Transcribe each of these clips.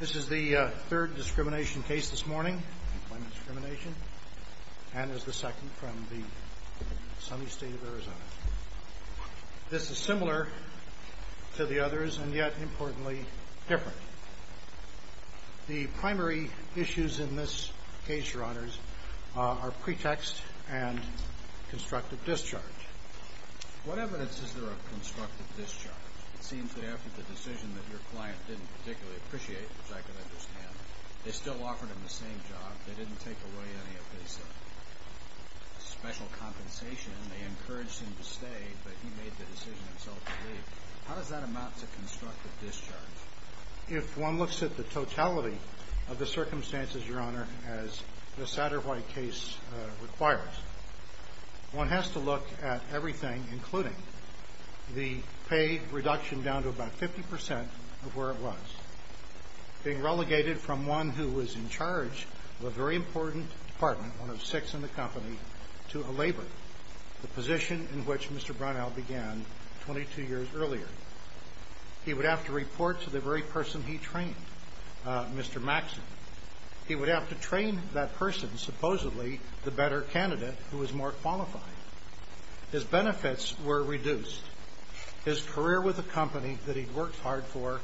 This is the third discrimination case this morning and is the second from the sunny state of Arizona. This is similar to the others and yet, importantly, different. The primary issues in this case, your honors, are pretext and constructive discharge. What evidence is there of constructive discharge? It seems that after the decision that your client didn't particularly appreciate, which I can understand, they still offered him the same job, they didn't take away any of his special compensation, they encouraged him to stay, but he made the decision himself to leave. How does that amount to constructive discharge? If one looks at the totality of the circumstances, your honor, as the Satterwhite case requires, one has to look at everything, including the pay reduction down to about 50% of where it was. Being relegated from one who was in charge of a very important department, one of six in the company, to a laborer, the position in which Mr. Brownell began 22 years earlier. He would have to report to the very person he trained, Mr. Maxson. He would have to train that person, supposedly, the better candidate who was more qualified. His benefits were reduced. His career with the company that he'd worked hard for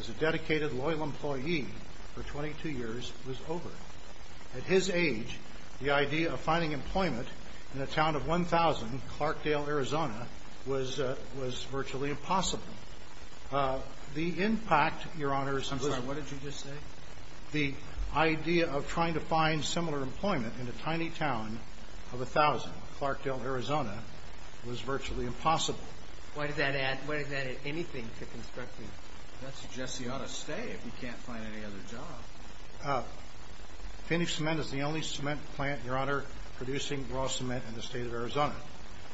as a dedicated, loyal employee for 22 years was over. At his age, the idea of finding employment in a town of 1,000, Clarkdale, Arizona, was virtually impossible. The impact, your honor, is some sort of... I'm sorry, what did you just say? The idea of trying to find similar employment in a tiny town of 1,000, Clarkdale, Arizona, was virtually impossible. Why does that add anything to constructive discharge? That suggests he ought to stay if he can't find any other job. Finish Cement is the only cement plant, your honor, producing raw cement in the state of Arizona.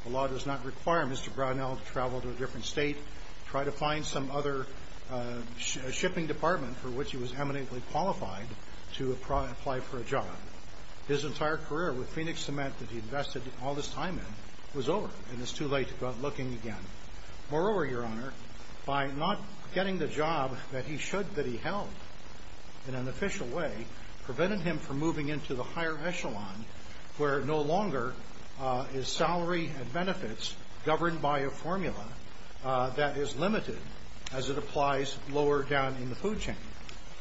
The law does not require Mr. Brownell to travel to a different state, try to find some other shipping department for which he was eminently qualified to apply for a job. His entire career with Phoenix Cement that he invested all this time in was over, and it's too late to go out looking again. Moreover, your honor, by not getting the job that he should that he held in an official way, prevented him from moving into the higher echelon where no longer is salary and benefits governed by a formula that is limited as it applies lower down in the food chain.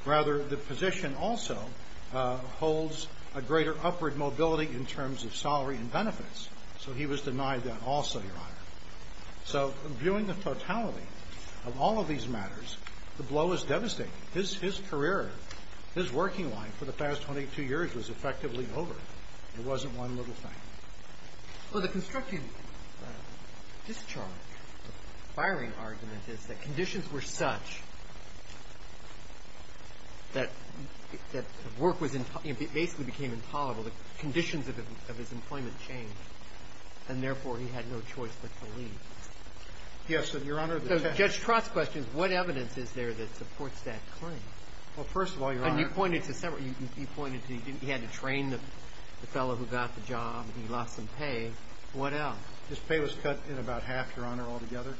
Rather, the position also holds a greater upward mobility in terms of salary and benefits, so he was denied that also, your honor. So, viewing the totality of all of these matters, the blow is devastating. His career, his working life for the past 22 years was effectively over. There wasn't one little thing. Well, the constricting discharge, the firing argument is that conditions were such that work was basically became intolerable. The conditions of his employment changed, and therefore he had no choice but to leave. Yes, your honor. Judge Trott's question is what evidence is there that supports that claim? Well, first of all, your honor. And you pointed to several. You pointed to he had to train the fellow who got the job. He lost some pay. What else? His pay was cut in about half, your honor, altogether,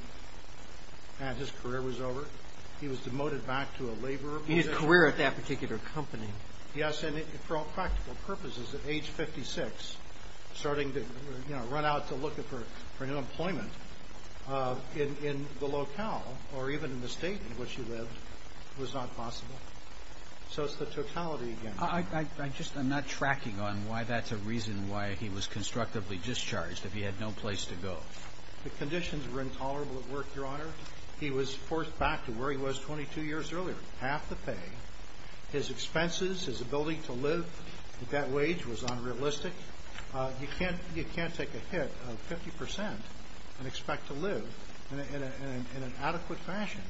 and his career was over. He was demoted back to a laborer. He had a career at that particular company. Yes, and for all practical purposes, at age 56, starting to, you know, run out to look for new employment in the locale or even in the state in which he lived was not possible. So it's the totality again. I just am not tracking on why that's a reason why he was constructively discharged if he had no place to go. The conditions were intolerable at work, your honor. He was forced back to where he was 22 years earlier, half the pay. His expenses, his ability to live at that wage was unrealistic. You can't take a hit of 50% and expect to live in an adequate fashion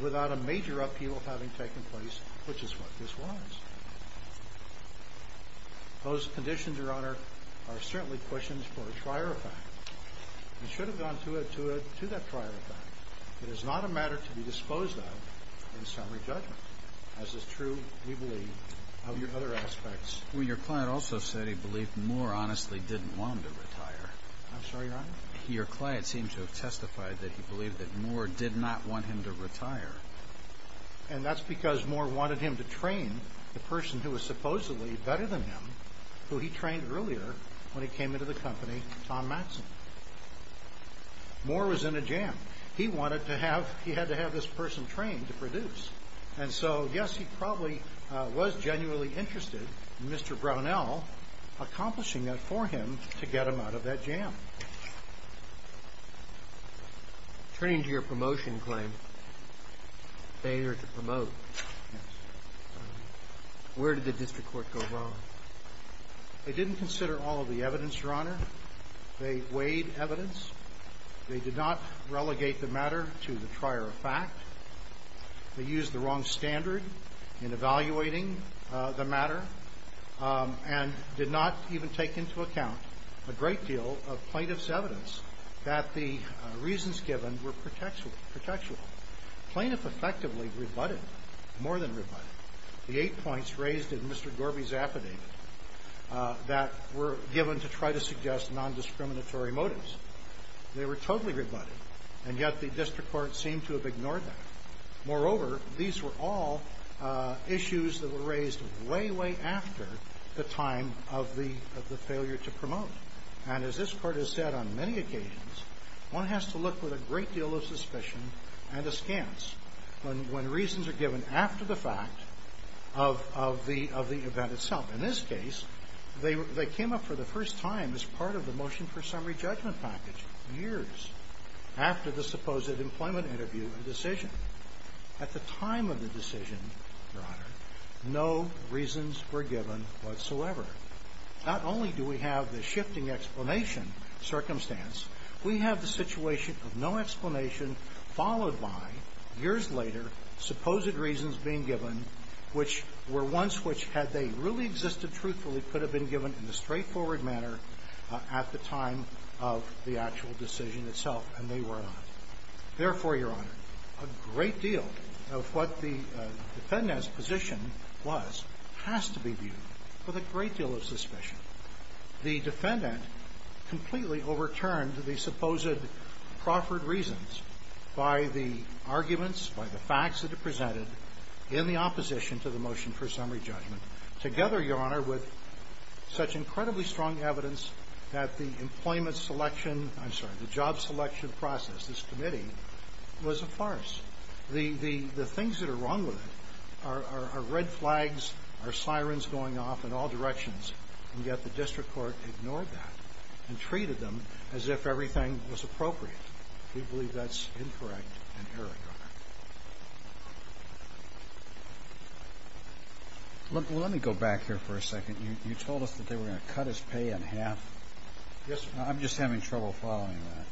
without a major upheaval having taken place, which is what this was. Those conditions, your honor, are certainly questions for a prior effect. We should have gone to that prior effect. It is not a matter to be disposed of in summary judgment. As is true, we believe, of your other aspects. Well, your client also said he believed Moore honestly didn't want him to retire. I'm sorry, your honor? Your client seemed to have testified that he believed that Moore did not want him to retire. And that's because Moore wanted him to train the person who was supposedly better than him, who he trained earlier when he came into the company, Tom Matson. Moore was in a jam. He had to have this person trained to produce. And so, yes, he probably was genuinely interested in Mr. Brownell accomplishing that for him to get him out of that jam. Turning to your promotion claim, failure to promote, where did the district court go wrong? They didn't consider all of the evidence, your honor. They weighed evidence. They did not relegate the matter to the trier of fact. They used the wrong standard in evaluating the matter and did not even take into account a great deal of plaintiff's evidence that the reasons given were pretextual. Plaintiff effectively rebutted, more than rebutted, the eight points raised in Mr. Gorby's affidavit that were given to try to suggest nondiscriminatory motives. They were totally rebutted. And yet the district court seemed to have ignored that. Moreover, these were all issues that were raised way, way after the time of the failure to promote. And as this court has said on many occasions, one has to look with a great deal of suspicion and askance when reasons are given after the fact of the event itself. In this case, they came up for the first time as part of the motion for summary judgment package, years after the supposed employment interview and decision. At the time of the decision, your honor, no reasons were given whatsoever. Not only do we have the shifting explanation circumstance, we have the situation of no explanation followed by, years later, supposed reasons being given which were ones which, had they really existed truthfully, could have been given in a straightforward manner at the time of the actual decision itself. And they were not. Therefore, your honor, a great deal of what the defendant's position was has to be viewed with a great deal of suspicion. The defendant completely overturned the supposed proffered reasons by the arguments, by the facts that are presented in the opposition to the motion for summary judgment, together, your honor, with such incredibly strong evidence that the employment selection, I'm sorry, the job selection process, this committee, was a farce. The things that are wrong with it are red flags, are sirens going off in all directions, and yet the district court ignored that and treated them as if everything was appropriate. We believe that's incorrect and erroneous. Let me go back here for a second. You told us that they were going to cut his pay in half. Yes, sir. I'm just having trouble following that.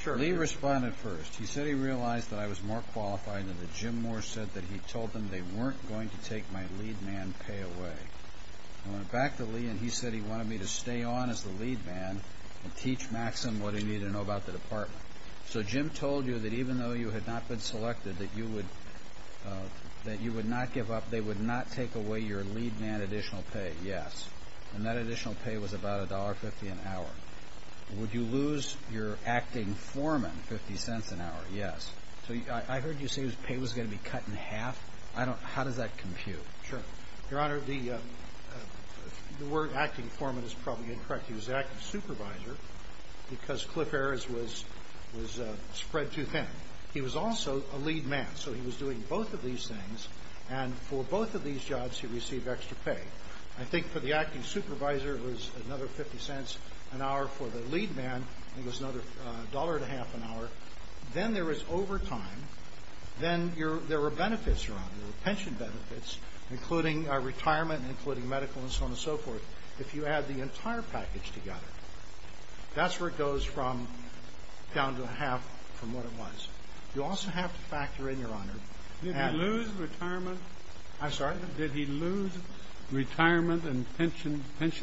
Sure. Lee responded first. He said he realized that I was more qualified than that. Jim Moore said that he told them they weren't going to take my lead man pay away. I went back to Lee and he said he wanted me to stay on as the lead man and teach Maxim what he needed to know about the department. So Jim told you that even though you had not been selected, that you would not give up, they would not take away your lead man additional pay? Yes. And that additional pay was about $1.50 an hour. Would you lose your acting foreman $0.50 an hour? Yes. I heard you say his pay was going to be cut in half. How does that compute? Sure. Your Honor, the word acting foreman is probably incorrect. He was acting supervisor because Cliff Ayers was spread too thin. He was also a lead man, so he was doing both of these things, and for both of these jobs he received extra pay. I think for the acting supervisor it was another $0.50 an hour. For the lead man it was another $1.50 an hour. Then there was overtime. Then there were benefits, Your Honor, pension benefits, including retirement, including medical, and so on and so forth. If you add the entire package together, that's where it goes from down to half from what it was. You also have to factor in, Your Honor, Did he lose retirement? I'm sorry? Did he lose retirement and pension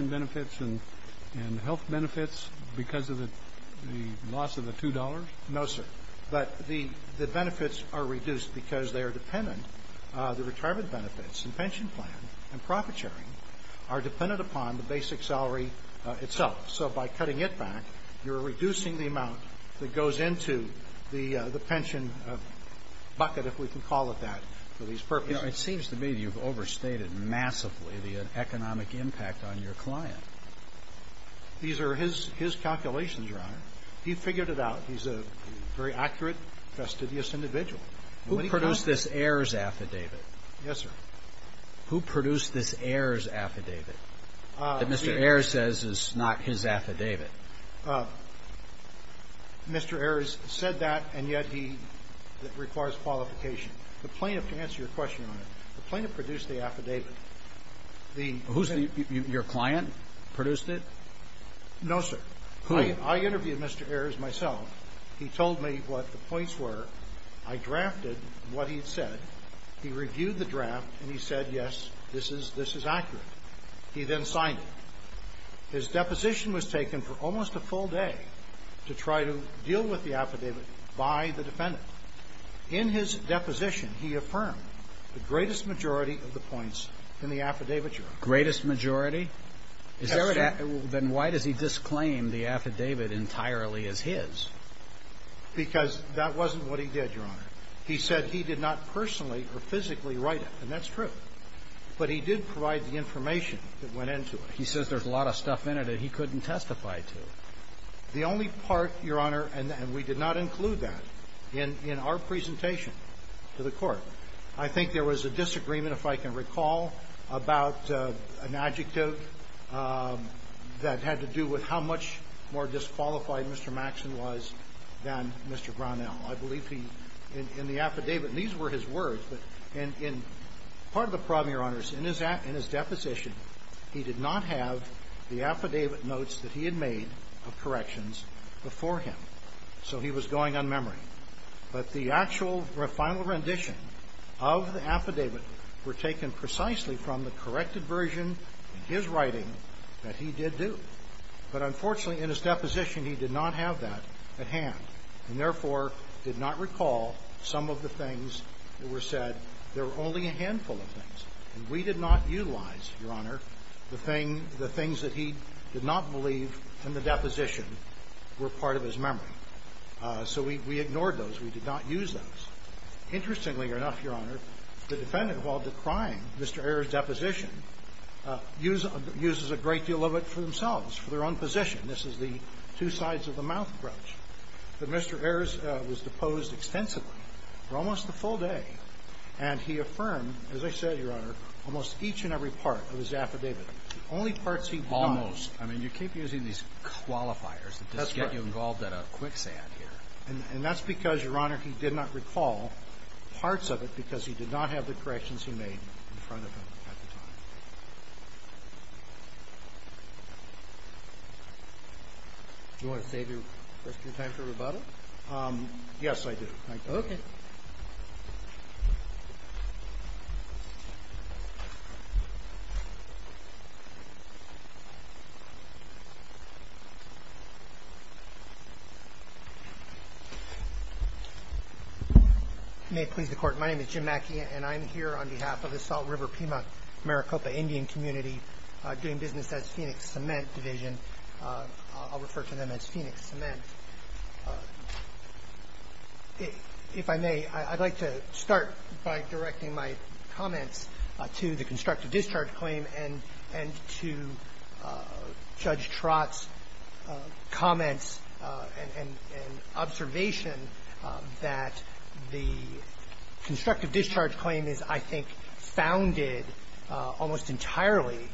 benefits and health benefits because of the loss of the $2? No, sir. But the benefits are reduced because they are dependent. The retirement benefits and pension plan and profit sharing are dependent upon the basic salary itself. So by cutting it back, you're reducing the amount that goes into the pension bucket, if we can call it that, for these purposes. It seems to me you've overstated massively the economic impact on your client. These are his calculations, Your Honor. He figured it out. He's a very accurate, fastidious individual. Who produced this Ayers affidavit? Yes, sir. Who produced this Ayers affidavit that Mr. Ayers says is not his affidavit? Mr. Ayers said that, and yet he requires qualification. The plaintiff, to answer your question, Your Honor, the plaintiff produced the affidavit. Your client produced it? No, sir. Who? I interviewed Mr. Ayers myself. He told me what the points were. I drafted what he had said. He reviewed the draft, and he said, yes, this is accurate. He then signed it. His deposition was taken for almost a full day to try to deal with the affidavit by the defendant. In his deposition, he affirmed the greatest majority of the points in the affidavit, Your Honor. Greatest majority? Yes, sir. Then why does he disclaim the affidavit entirely as his? Because that wasn't what he did, Your Honor. He said he did not personally or physically write it, and that's true. But he did provide the information that went into it. He says there's a lot of stuff in it that he couldn't testify to. The only part, Your Honor, and we did not include that in our presentation to the Court. I think there was a disagreement, if I can recall, about an adjective that had to do with how much more disqualified Mr. Maxson was than Mr. Brownell. I believe he, in the affidavit, and these were his words, but in part of the problem, Your Honor, is in his deposition, he did not have the affidavit notes that he had made of corrections before him. So he was going on memory. But the actual final rendition of the affidavit were taken precisely from the corrected version in his writing that he did do. But unfortunately, in his deposition, he did not have that at hand, and therefore did not recall some of the things that were said. There were only a handful of things. And we did not utilize, Your Honor, the things that he did not believe in the deposition were part of his memory. So we ignored those. We did not use those. Interestingly enough, Your Honor, the defendant, while decrying Mr. Ayers' deposition, uses a great deal of it for themselves, for their own position. This is the two sides of the mouth approach. But Mr. Ayers was deposed extensively for almost the full day. And he affirmed, as I said, Your Honor, almost each and every part of his affidavit. The only parts he did not. Almost. I mean, you keep using these qualifiers that just get you involved in a quicksand here. And that's because, Your Honor, he did not recall parts of it because he did not have the corrections he made in front of him at the time. Do you want to save your first few times for rebuttal? Yes, I do. Thank you. Okay. May it please the Court. My name is Jim Mackey, and I'm here on behalf of the Salt River-Piedmont-Maricopa Indian Community doing business as Phoenix Cement Division. I'll refer to them as Phoenix Cement. If I may, I'd like to start by directing my comments to the constructive discharge claim and to Judge Trott's comments and observation that the constructive discharge claim is, I think, founded almost entirely,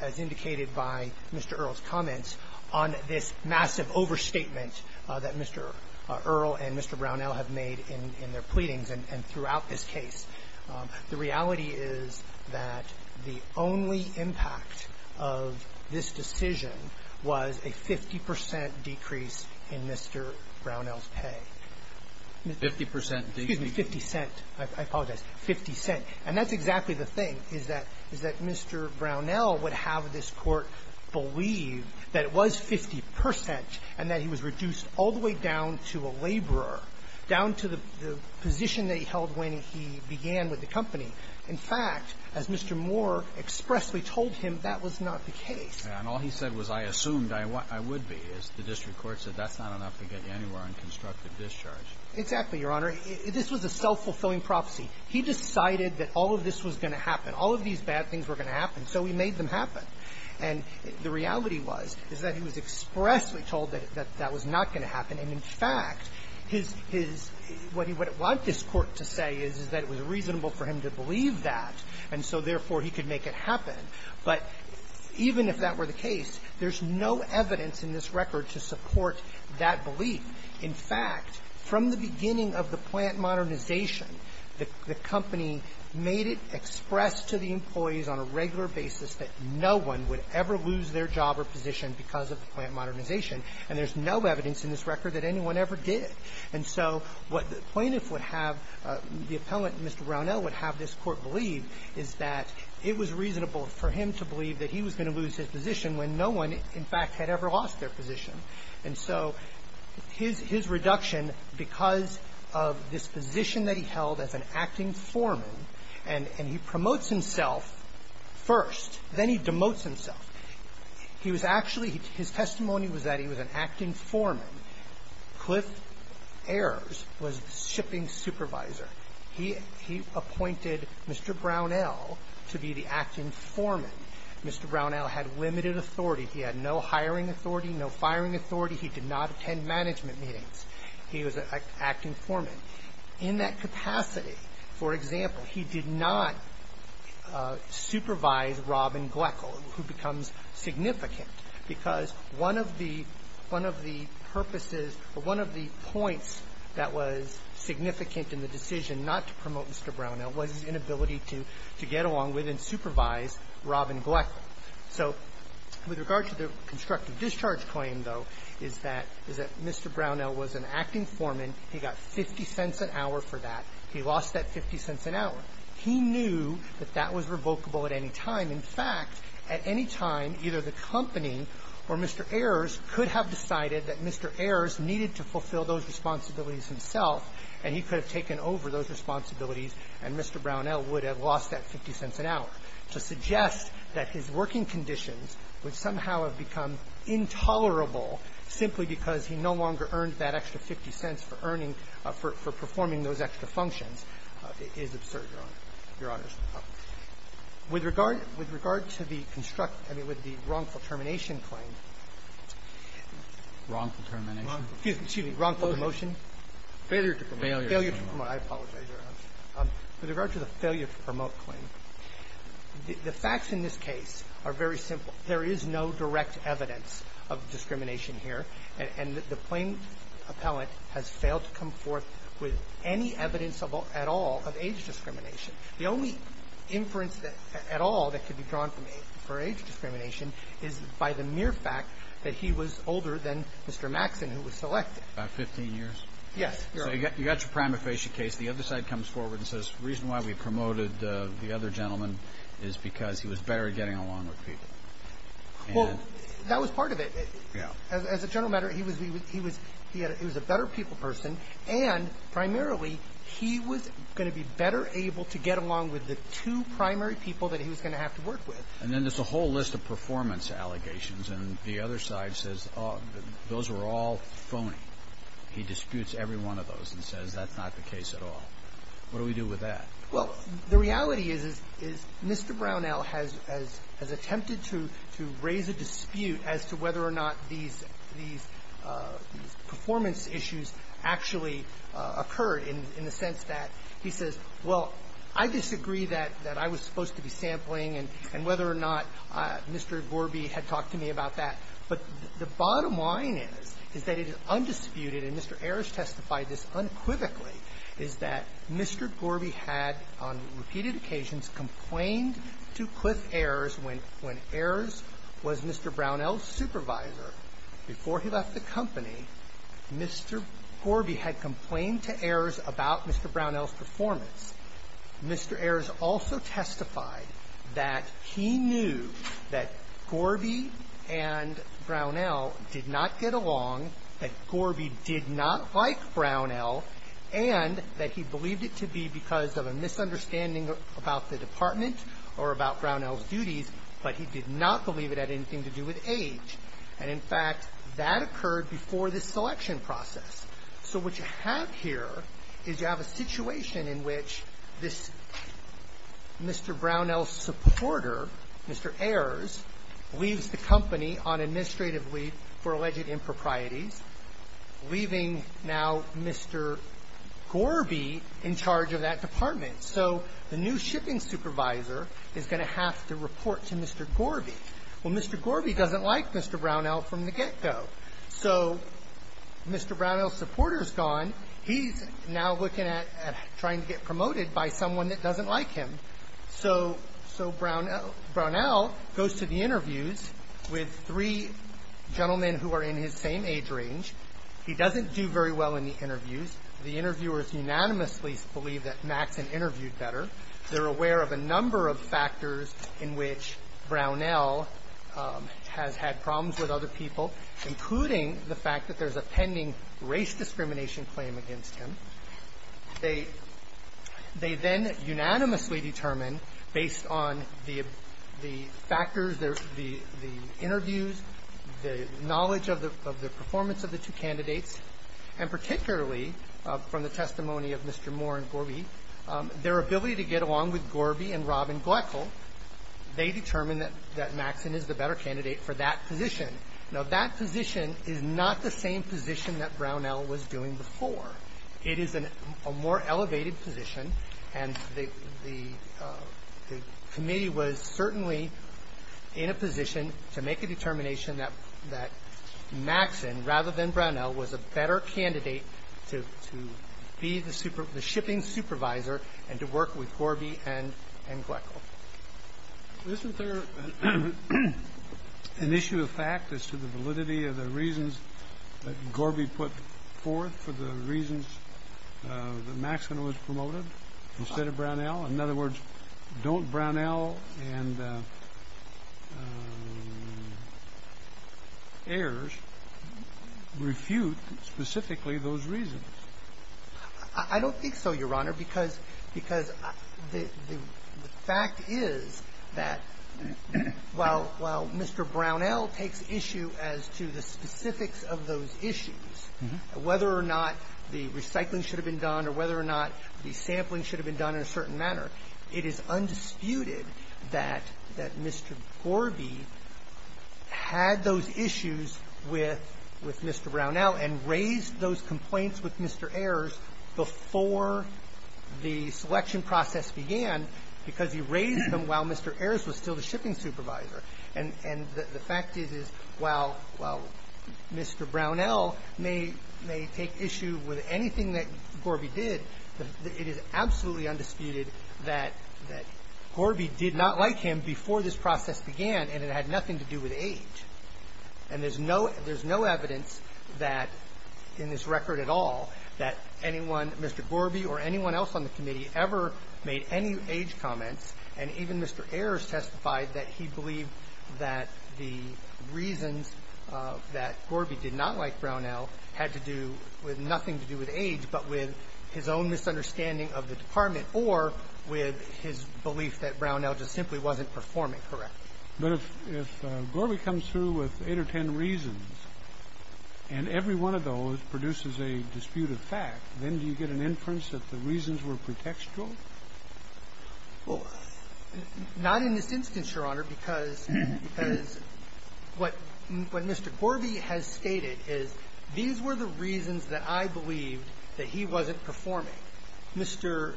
as indicated by Mr. Earle's comments, on this massive overstatement that Mr. Earle and Mr. Brownell have made in their pleadings and throughout this case. The reality is that the only impact of this decision was a 50 percent decrease in Mr. Brownell's pay. 50 percent decrease? Excuse me, 50 cent. I apologize. Fifty cent. And that's exactly the thing, is that Mr. Brownell would have this Court believe that it was 50 percent and that he was reduced all the way down to a laborer, down to the position that he held when he began with the company. In fact, as Mr. Moore expressly told him, that was not the case. And all he said was, I assumed I would be, as the district court said, that's not enough to get you anywhere on constructive discharge. Exactly, Your Honor. This was a self-fulfilling prophecy. He decided that all of this was going to happen. All of these bad things were going to happen, so he made them happen. And the reality was, is that he was expressly told that that was not going to happen. And, in fact, his — what he would want this Court to say is, is that it was reasonable for him to believe that, and so, therefore, he could make it happen. But even if that were the case, there's no evidence in this record to support that belief. In fact, from the beginning of the plant modernization, the company made it expressed to the employees on a regular basis that no one would ever lose their job or position because of the plant modernization. And there's no evidence in this record that anyone ever did it. And so what the plaintiff would have — the appellant, Mr. Brownell, would have this Court believe is that it was reasonable for him to believe that he was going to lose his position when no one, in fact, had ever lost their position. And so his — his reduction, because of this position that he held as an acting foreman, and he promotes himself first, then he demotes himself. He was actually — his testimony was that he was an acting foreman. Cliff Ayers was the shipping supervisor. He — he appointed Mr. Brownell to be the acting foreman. Mr. Brownell had limited authority. He had no hiring authority, no firing authority. He did not attend management meetings. He was an acting foreman. In that capacity, for example, he did not supervise Robin Gleckel, who becomes significant, because one of the — one of the purposes or one of the points that was significant in the decision not to promote Mr. Brownell was his inability to get along with and supervise Robin Gleckel. So with regard to the constructive discharge claim, though, is that — is that Mr. Brownell was an acting foreman. He got 50 cents an hour for that. He lost that 50 cents an hour. He knew that that was revocable at any time. In fact, at any time, either the company or Mr. Ayers could have decided that Mr. Ayers needed to fulfill those responsibilities himself, and he could have taken over those responsibilities, and Mr. Brownell would have lost that 50 cents an hour. To suggest that his working conditions would somehow have become intolerable simply because he no longer earned that extra 50 cents for earning — for performing those extra functions is absurd, Your Honor. Your Honor, with regard — with regard to the construct — I mean, with the wrongful termination claim — Wrongful termination? Excuse me. Wrongful promotion? Failure to promote. Failure to promote. I apologize, Your Honor. With regard to the failure to promote claim, the facts in this case are very simple. There is no direct evidence of discrimination here, and the plain appellant has failed to come forth with any evidence at all of age discrimination. The only inference at all that could be drawn for age discrimination is by the mere fact that he was older than Mr. Maxson, who was selected. About 15 years? Yes, Your Honor. So you got your prima facie case. The other side comes forward and says the reason why we promoted the other gentleman is because he was better at getting along with people. Well, that was part of it. Yeah. As a general matter, he was a better people person, and primarily, he was going to be better able to get along with the two primary people that he was going to have to work with. And then there's a whole list of performance allegations, and the other side says those were all phony. He disputes every one of those and says that's not the case at all. What do we do with that? Well, the reality is, is Mr. Brownell has attempted to raise a dispute as to whether or not these performance issues actually occurred in the sense that he says, well, I disagree that I was supposed to be sampling and whether or not Mr. Gorby had talked to me about that, but the bottom line is, is that it is undisputed, and Mr. Ayers testified this unequivocally, is that Mr. Gorby had on repeated occasions complained to Cliff Ayers when Ayers was Mr. Brownell's supervisor. Before he left the company, Mr. Gorby had complained to Ayers about Mr. Brownell's performance. Mr. Ayers also testified that he knew that Gorby and Brownell did not get along, that Gorby did not like Brownell, and that he believed it to be because of a misunderstanding about the department or about Brownell's duties, but he did not believe it had anything to do with age. And, in fact, that occurred before this selection process. So what you have here is you have a situation in which this Mr. Brownell supporter, Mr. Ayers, leaves the company on administrative leave for alleged improprieties, leaving now Mr. Gorby in charge of that department. So the new shipping supervisor is going to have to report to Mr. Gorby. Well, Mr. Gorby doesn't like Mr. Brownell from the get-go. So Mr. Brownell's supporter's gone. He's now looking at trying to get promoted by someone that doesn't like him. So Brownell goes to the interviews with three gentlemen who are in his same age range. He doesn't do very well in the interviews. The interviewers unanimously believe that Maxson interviewed better. They're aware of a number of factors in which Brownell has had problems with other people, including the fact that there's a pending race discrimination claim against him. They then unanimously determine, based on the factors, the interviews, the knowledge of the performance of the two candidates, and particularly from the testimony of Mr. Moore and Gorby, their ability to get along with Gorby and Robin Gleckel, they determine that Maxson is the better candidate for that position. Now, that position is not the same position that Brownell was doing before. It is a more elevated position, and the committee was certainly in a position to make a determination that Maxson, rather than Brownell, was a better candidate to be the shipping supervisor and to work with Gorby and Gleckel. Isn't there an issue of fact as to the validity of the reasons that Gorby put forth for the reasons that Maxson was promoted instead of Brownell? In other words, don't Brownell and Ayers refute specifically those reasons? I don't think so, Your Honor, because the fact is that while Mr. Brownell takes issue as to the specifics of those issues, whether or not the recycling should have been done or whether or not the sampling should have been done in a certain manner, it is undisputed that Mr. Gorby had those issues with Mr. Brownell and raised those complaints with Mr. Ayers before the selection process began because he raised them while Mr. Ayers was still the shipping supervisor. And the fact is, is while Mr. Brownell may take issue with anything that Gorby did, it is absolutely undisputed that Gorby did not like him before this process began, and it had nothing to do with age. And there's no evidence that, in this record at all, that anyone, Mr. Gorby or anyone else on the committee ever made any age comments. And even Mr. Ayers testified that he believed that the reasons that Gorby did not like Brownell had to do with nothing to do with age but with his own misunderstanding of the Department or with his belief that Brownell just simply wasn't performing correctly. But if Gorby comes through with eight or ten reasons and every one of those produces a disputed fact, then do you get an inference that the reasons were pretextual? Well, not in this instance, Your Honor, because what Mr. Gorby has stated is these were the reasons that I believed that he wasn't performing. Mr.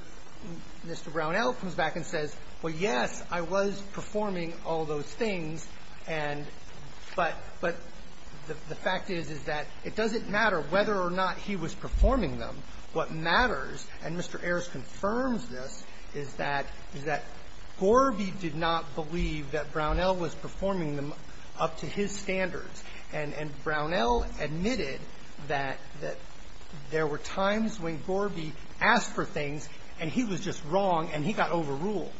Brownell comes back and says, well, yes, I was performing all those things, but the fact is, is that it doesn't matter whether or not he was performing them. What matters, and Mr. Ayers confirms this, is that Gorby did not believe that Brownell was performing them up to his standards, and Brownell admitted that there were times when Gorby asked for things and he was just wrong and he got overruled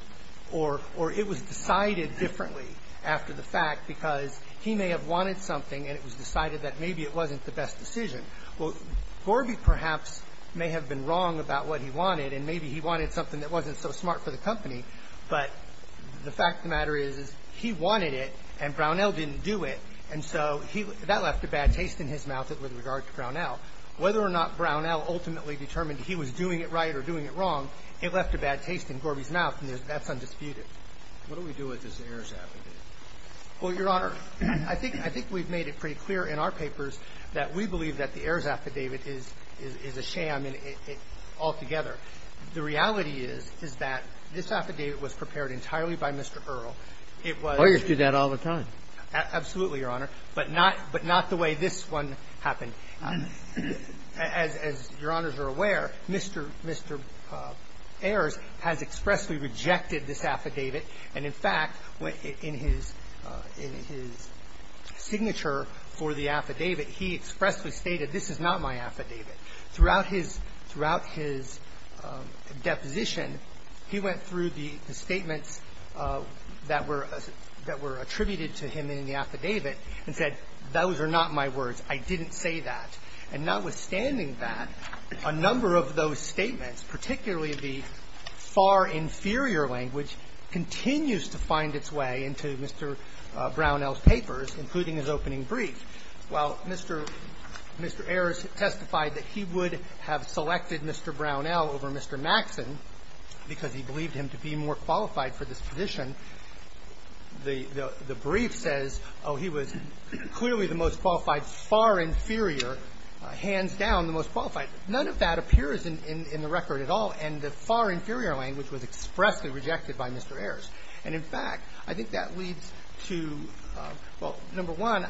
or it was decided differently after the fact because he may have wanted something and it was decided that maybe it wasn't the best decision. Well, Gorby perhaps may have been wrong about what he wanted and maybe he wanted something that wasn't so smart for the company, but the fact of the matter is he wanted it and Brownell didn't do it, and so that left a bad taste in his mouth with regard to Brownell. Whether or not Brownell ultimately determined he was doing it right or doing it wrong, it left a bad taste in Gorby's mouth, and that's undisputed. What do we do with this Ayers affidavit? Well, Your Honor, I think we've made it pretty clear in our papers that we believe that the Ayers affidavit is a sham altogether. The reality is, is that this affidavit was prepared entirely by Mr. Earle. It was the way this one happened. And as Your Honors are aware, Mr. Ayers has expressly rejected this affidavit and, in fact, in his signature for the affidavit, he expressly stated, this is not my affidavit. Throughout his deposition, he went through the statements that were attributed to him in the affidavit and said, those are not my words. I didn't say that. And notwithstanding that, a number of those statements, particularly the far inferior language, continues to find its way into Mr. Brownell's papers, including his opening brief. While Mr. Ayers testified that he would have selected Mr. Brownell over Mr. Maxson because he believed him to be more qualified for this position, the brief says, oh, he was clearly the most qualified, far inferior, hands down the most qualified. None of that appears in the record at all. And the far inferior language was expressly rejected by Mr. Ayers. And, in fact, I think that leads to, well, number one,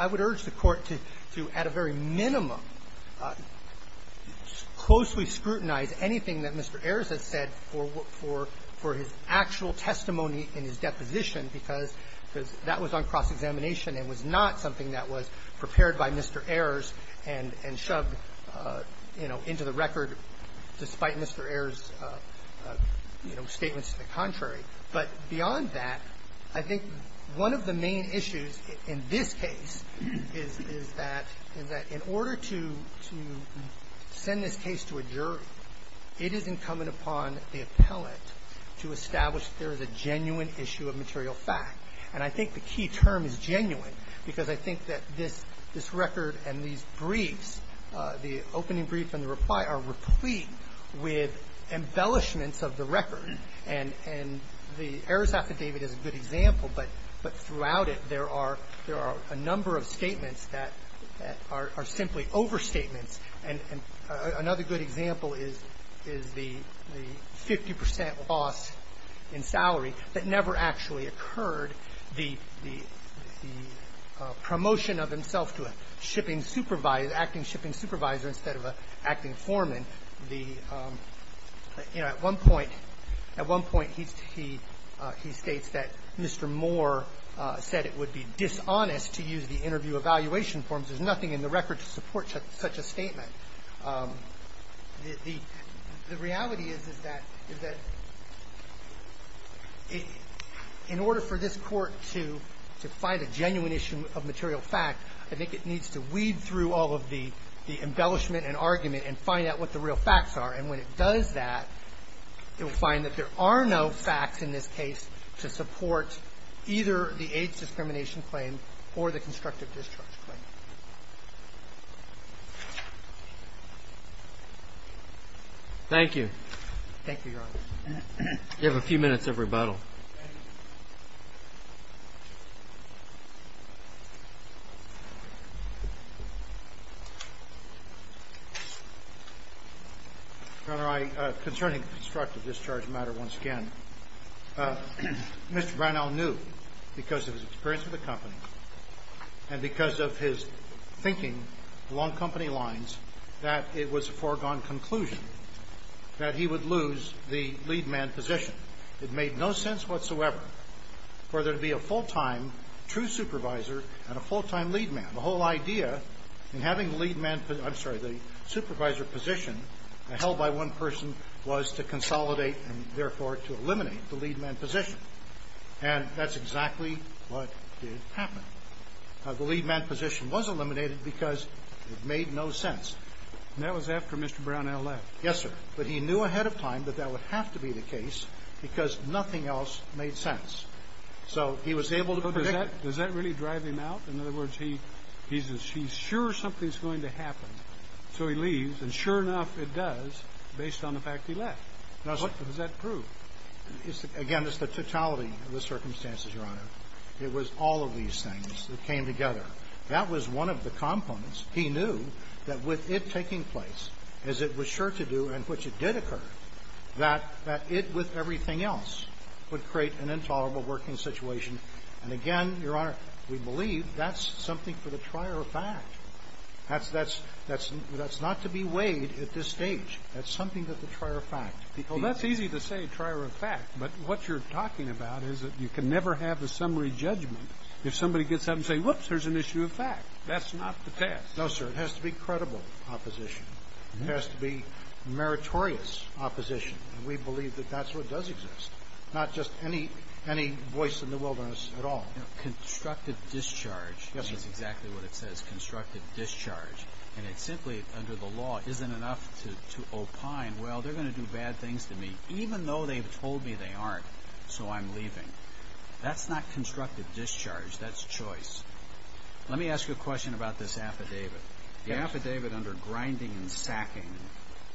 I would urge the Court to, at a very minimum, closely scrutinize anything that Mr. Ayers has said for his actual testimony in his deposition, because that was on cross-examination and was not something that was prepared by Mr. Ayers and shoved, you know, into the record despite Mr. Ayers' statements to the contrary. But beyond that, I think one of the main issues in this case is that, in order to send this case to a jury, it is incumbent upon the appellate to establish that there is a genuine issue of material fact. And I think the key term is genuine, because I think that this record and these briefs, the opening brief and the reply, are replete with embellishments of the record. And the Ayers affidavit is a good example, but throughout it, there are a number of statements that are simply overstatements. And another good example is the 50 percent loss in salary that never actually occurred, the promotion of himself to a shipping supervisor, acting shipping supervisor instead of an acting foreman. You know, at one point, at one point, he states that Mr. Moore said it would be dishonest to use the interview evaluation forms. There's nothing in the record to support such a statement. The reality is, is that in order for this court to find a genuine issue of material fact, I think it needs to weed through all of the embellishment and argument and find out what the real facts are. And when it does that, it will find that there are no facts in this case to support either the AIDS discrimination claim or the constructive discharge claim. Thank you. Thank you, Your Honor. You have a few minutes of rebuttal. Thank you. Your Honor, I, concerning the constructive discharge matter once again, Mr. Brownell knew, because of his experience with the company and because of his experience with the thinking along company lines, that it was a foregone conclusion that he would lose the lead man position. It made no sense whatsoever for there to be a full-time true supervisor and a full-time lead man. The whole idea in having the lead man, I'm sorry, the supervisor position held by one person was to consolidate and therefore to eliminate the lead man position. And that's exactly what did happen. The lead man position was eliminated because it made no sense. And that was after Mr. Brownell left. Yes, sir. But he knew ahead of time that that would have to be the case because nothing else made sense. So he was able to predict it. Does that really drive him out? In other words, he's sure something's going to happen, so he leaves. And sure enough, it does, based on the fact he left. Does that prove? Again, it's the totality of the circumstances, Your Honor. It was all of these things that came together. That was one of the components. He knew that with it taking place, as it was sure to do and which it did occur, that it with everything else would create an intolerable working situation. And again, Your Honor, we believe that's something for the trier of fact. That's not to be weighed at this stage. That's something that the trier of fact. Well, that's easy to say, trier of fact. But what you're talking about is that you can never have a summary judgment if somebody gets up and says, whoops, there's an issue of fact. That's not the test. No, sir. It has to be credible opposition. It has to be meritorious opposition. And we believe that that's what does exist, not just any voice in the wilderness at all. Constructive discharge is exactly what it says, constructive discharge. And it simply, under the law, isn't enough to opine, well, they're going to do bad things to me. Even though they've told me they aren't, so I'm leaving. That's not constructive discharge. That's choice. Let me ask you a question about this affidavit. The affidavit under grinding and sacking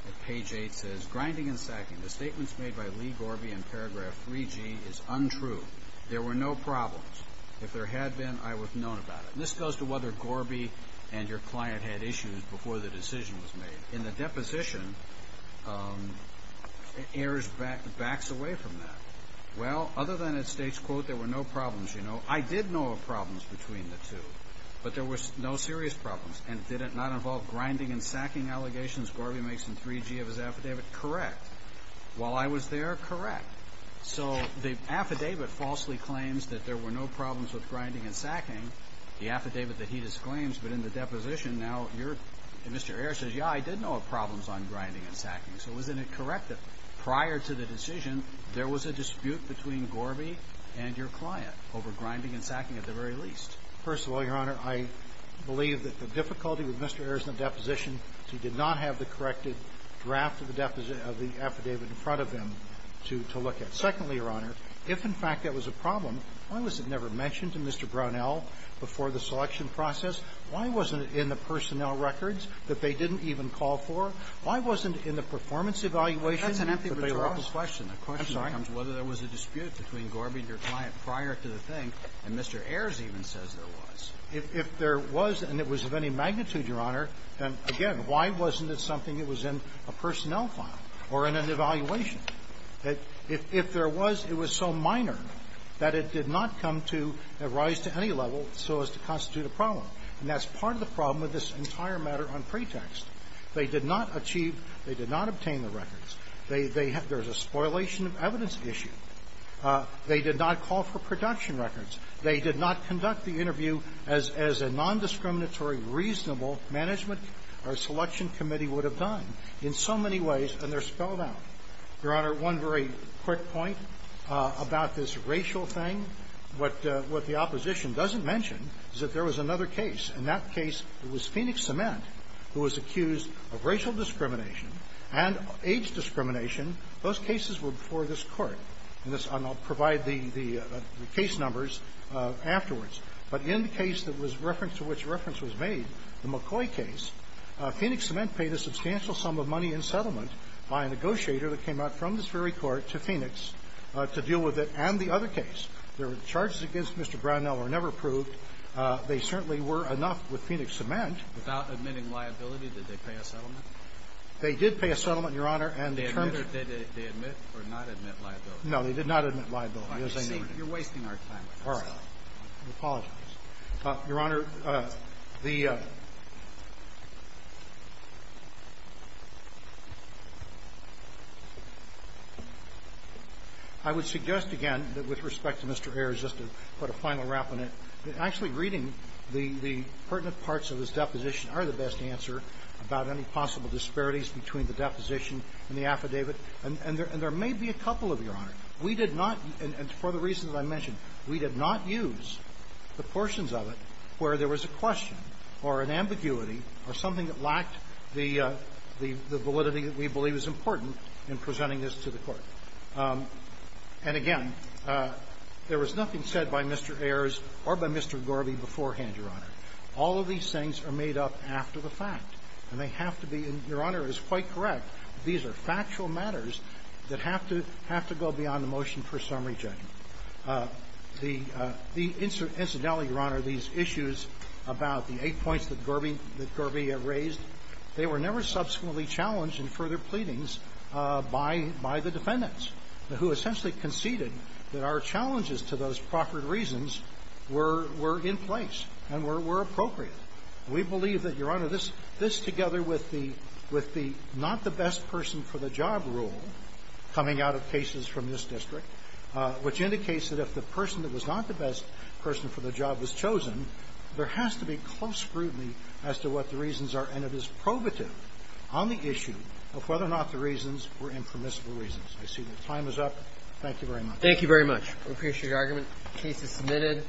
at page 8 says, Grinding and sacking, the statements made by Lee Gorby in paragraph 3G is untrue. There were no problems. If there had been, I would have known about it. This goes to whether Gorby and your client had issues before the decision was made. In the deposition, Ayers backs away from that. Well, other than it states, quote, there were no problems, you know. I did know of problems between the two, but there were no serious problems. And did it not involve grinding and sacking allegations Gorby makes in 3G of his affidavit? Correct. While I was there, correct. So the affidavit falsely claims that there were no problems with grinding and sacking, the affidavit that he disclaims. But in the deposition, now you're, Mr. Ayers says, yeah, I did know of problems on grinding and sacking. So isn't it correct that prior to the decision, there was a dispute between Gorby and your client over grinding and sacking at the very least? First of all, Your Honor, I believe that the difficulty with Mr. Ayers in the deposition is he did not have the corrected draft of the affidavit in front of him to look at. Secondly, Your Honor, if in fact that was a problem, why was it never mentioned to Mr. Brownell before the selection process? Why wasn't it in the personnel records that they didn't even call for? Why wasn't it in the performance evaluation? That's an empty rhetorical question. I'm sorry. The question becomes whether there was a dispute between Gorby and your client prior to the thing, and Mr. Ayers even says there was. If there was and it was of any magnitude, Your Honor, then, again, why wasn't it something that was in a personnel file or in an evaluation? If there was, it was so minor that it did not come to a rise to any level so as to constitute a problem. And that's part of the problem with this entire matter on pretext. They did not achieve, they did not obtain the records. There's a spoilation of evidence issue. They did not call for production records. They did not conduct the interview as a nondiscriminatory, reasonable management or selection committee would have done in so many ways, and they're spelled out. Your Honor, one very quick point about this racial thing. What the opposition doesn't mention is that there was another case. In that case, it was Phoenix Cement who was accused of racial discrimination and age discrimination. Those cases were before this Court. And I'll provide the case numbers afterwards. But in the case to which reference was made, the McCoy case, Phoenix Cement paid a substantial sum of money in settlement by a negotiator that came out from this very Court to Phoenix to deal with it and the other case. The charges against Mr. Brownell were never proved. They certainly were enough with Phoenix Cement. Without admitting liability, did they pay a settlement? They did pay a settlement, Your Honor. And the terms of it they admitted or not admit liability? No, they did not admit liability, as I noted. You're wasting our time with this. All right. I apologize. Your Honor, the – I would suggest again that with respect to Mr. Ayers, just to put a final wrap on it, that actually reading the pertinent parts of this deposition are the best answer about any possible disparities between the deposition and the affidavit. We did not, and for the reasons I mentioned, we did not use the portions of it where there was a question or an ambiguity or something that lacked the validity that we believe is important in presenting this to the Court. And again, there was nothing said by Mr. Ayers or by Mr. Gorby beforehand, Your Honor. All of these things are made up after the fact. And they have to be, and Your Honor is quite correct, these are factual matters that have to go beyond the motion for summary judgment. The incidentally, Your Honor, these issues about the eight points that Gorby have raised, they were never subsequently challenged in further pleadings by the defendants, who essentially conceded that our challenges to those proffered reasons were in place and were appropriate. We believe that, Your Honor, this together with the not the best person for the job rule coming out of cases from this district, which indicates that if the person that was not the best person for the job was chosen, there has to be close scrutiny as to what the reasons are, and it is probative on the issue of whether or not the reasons were impermissible reasons. I see that time is up. Thank you very much. Thank you very much. We appreciate your argument. The case is submitted.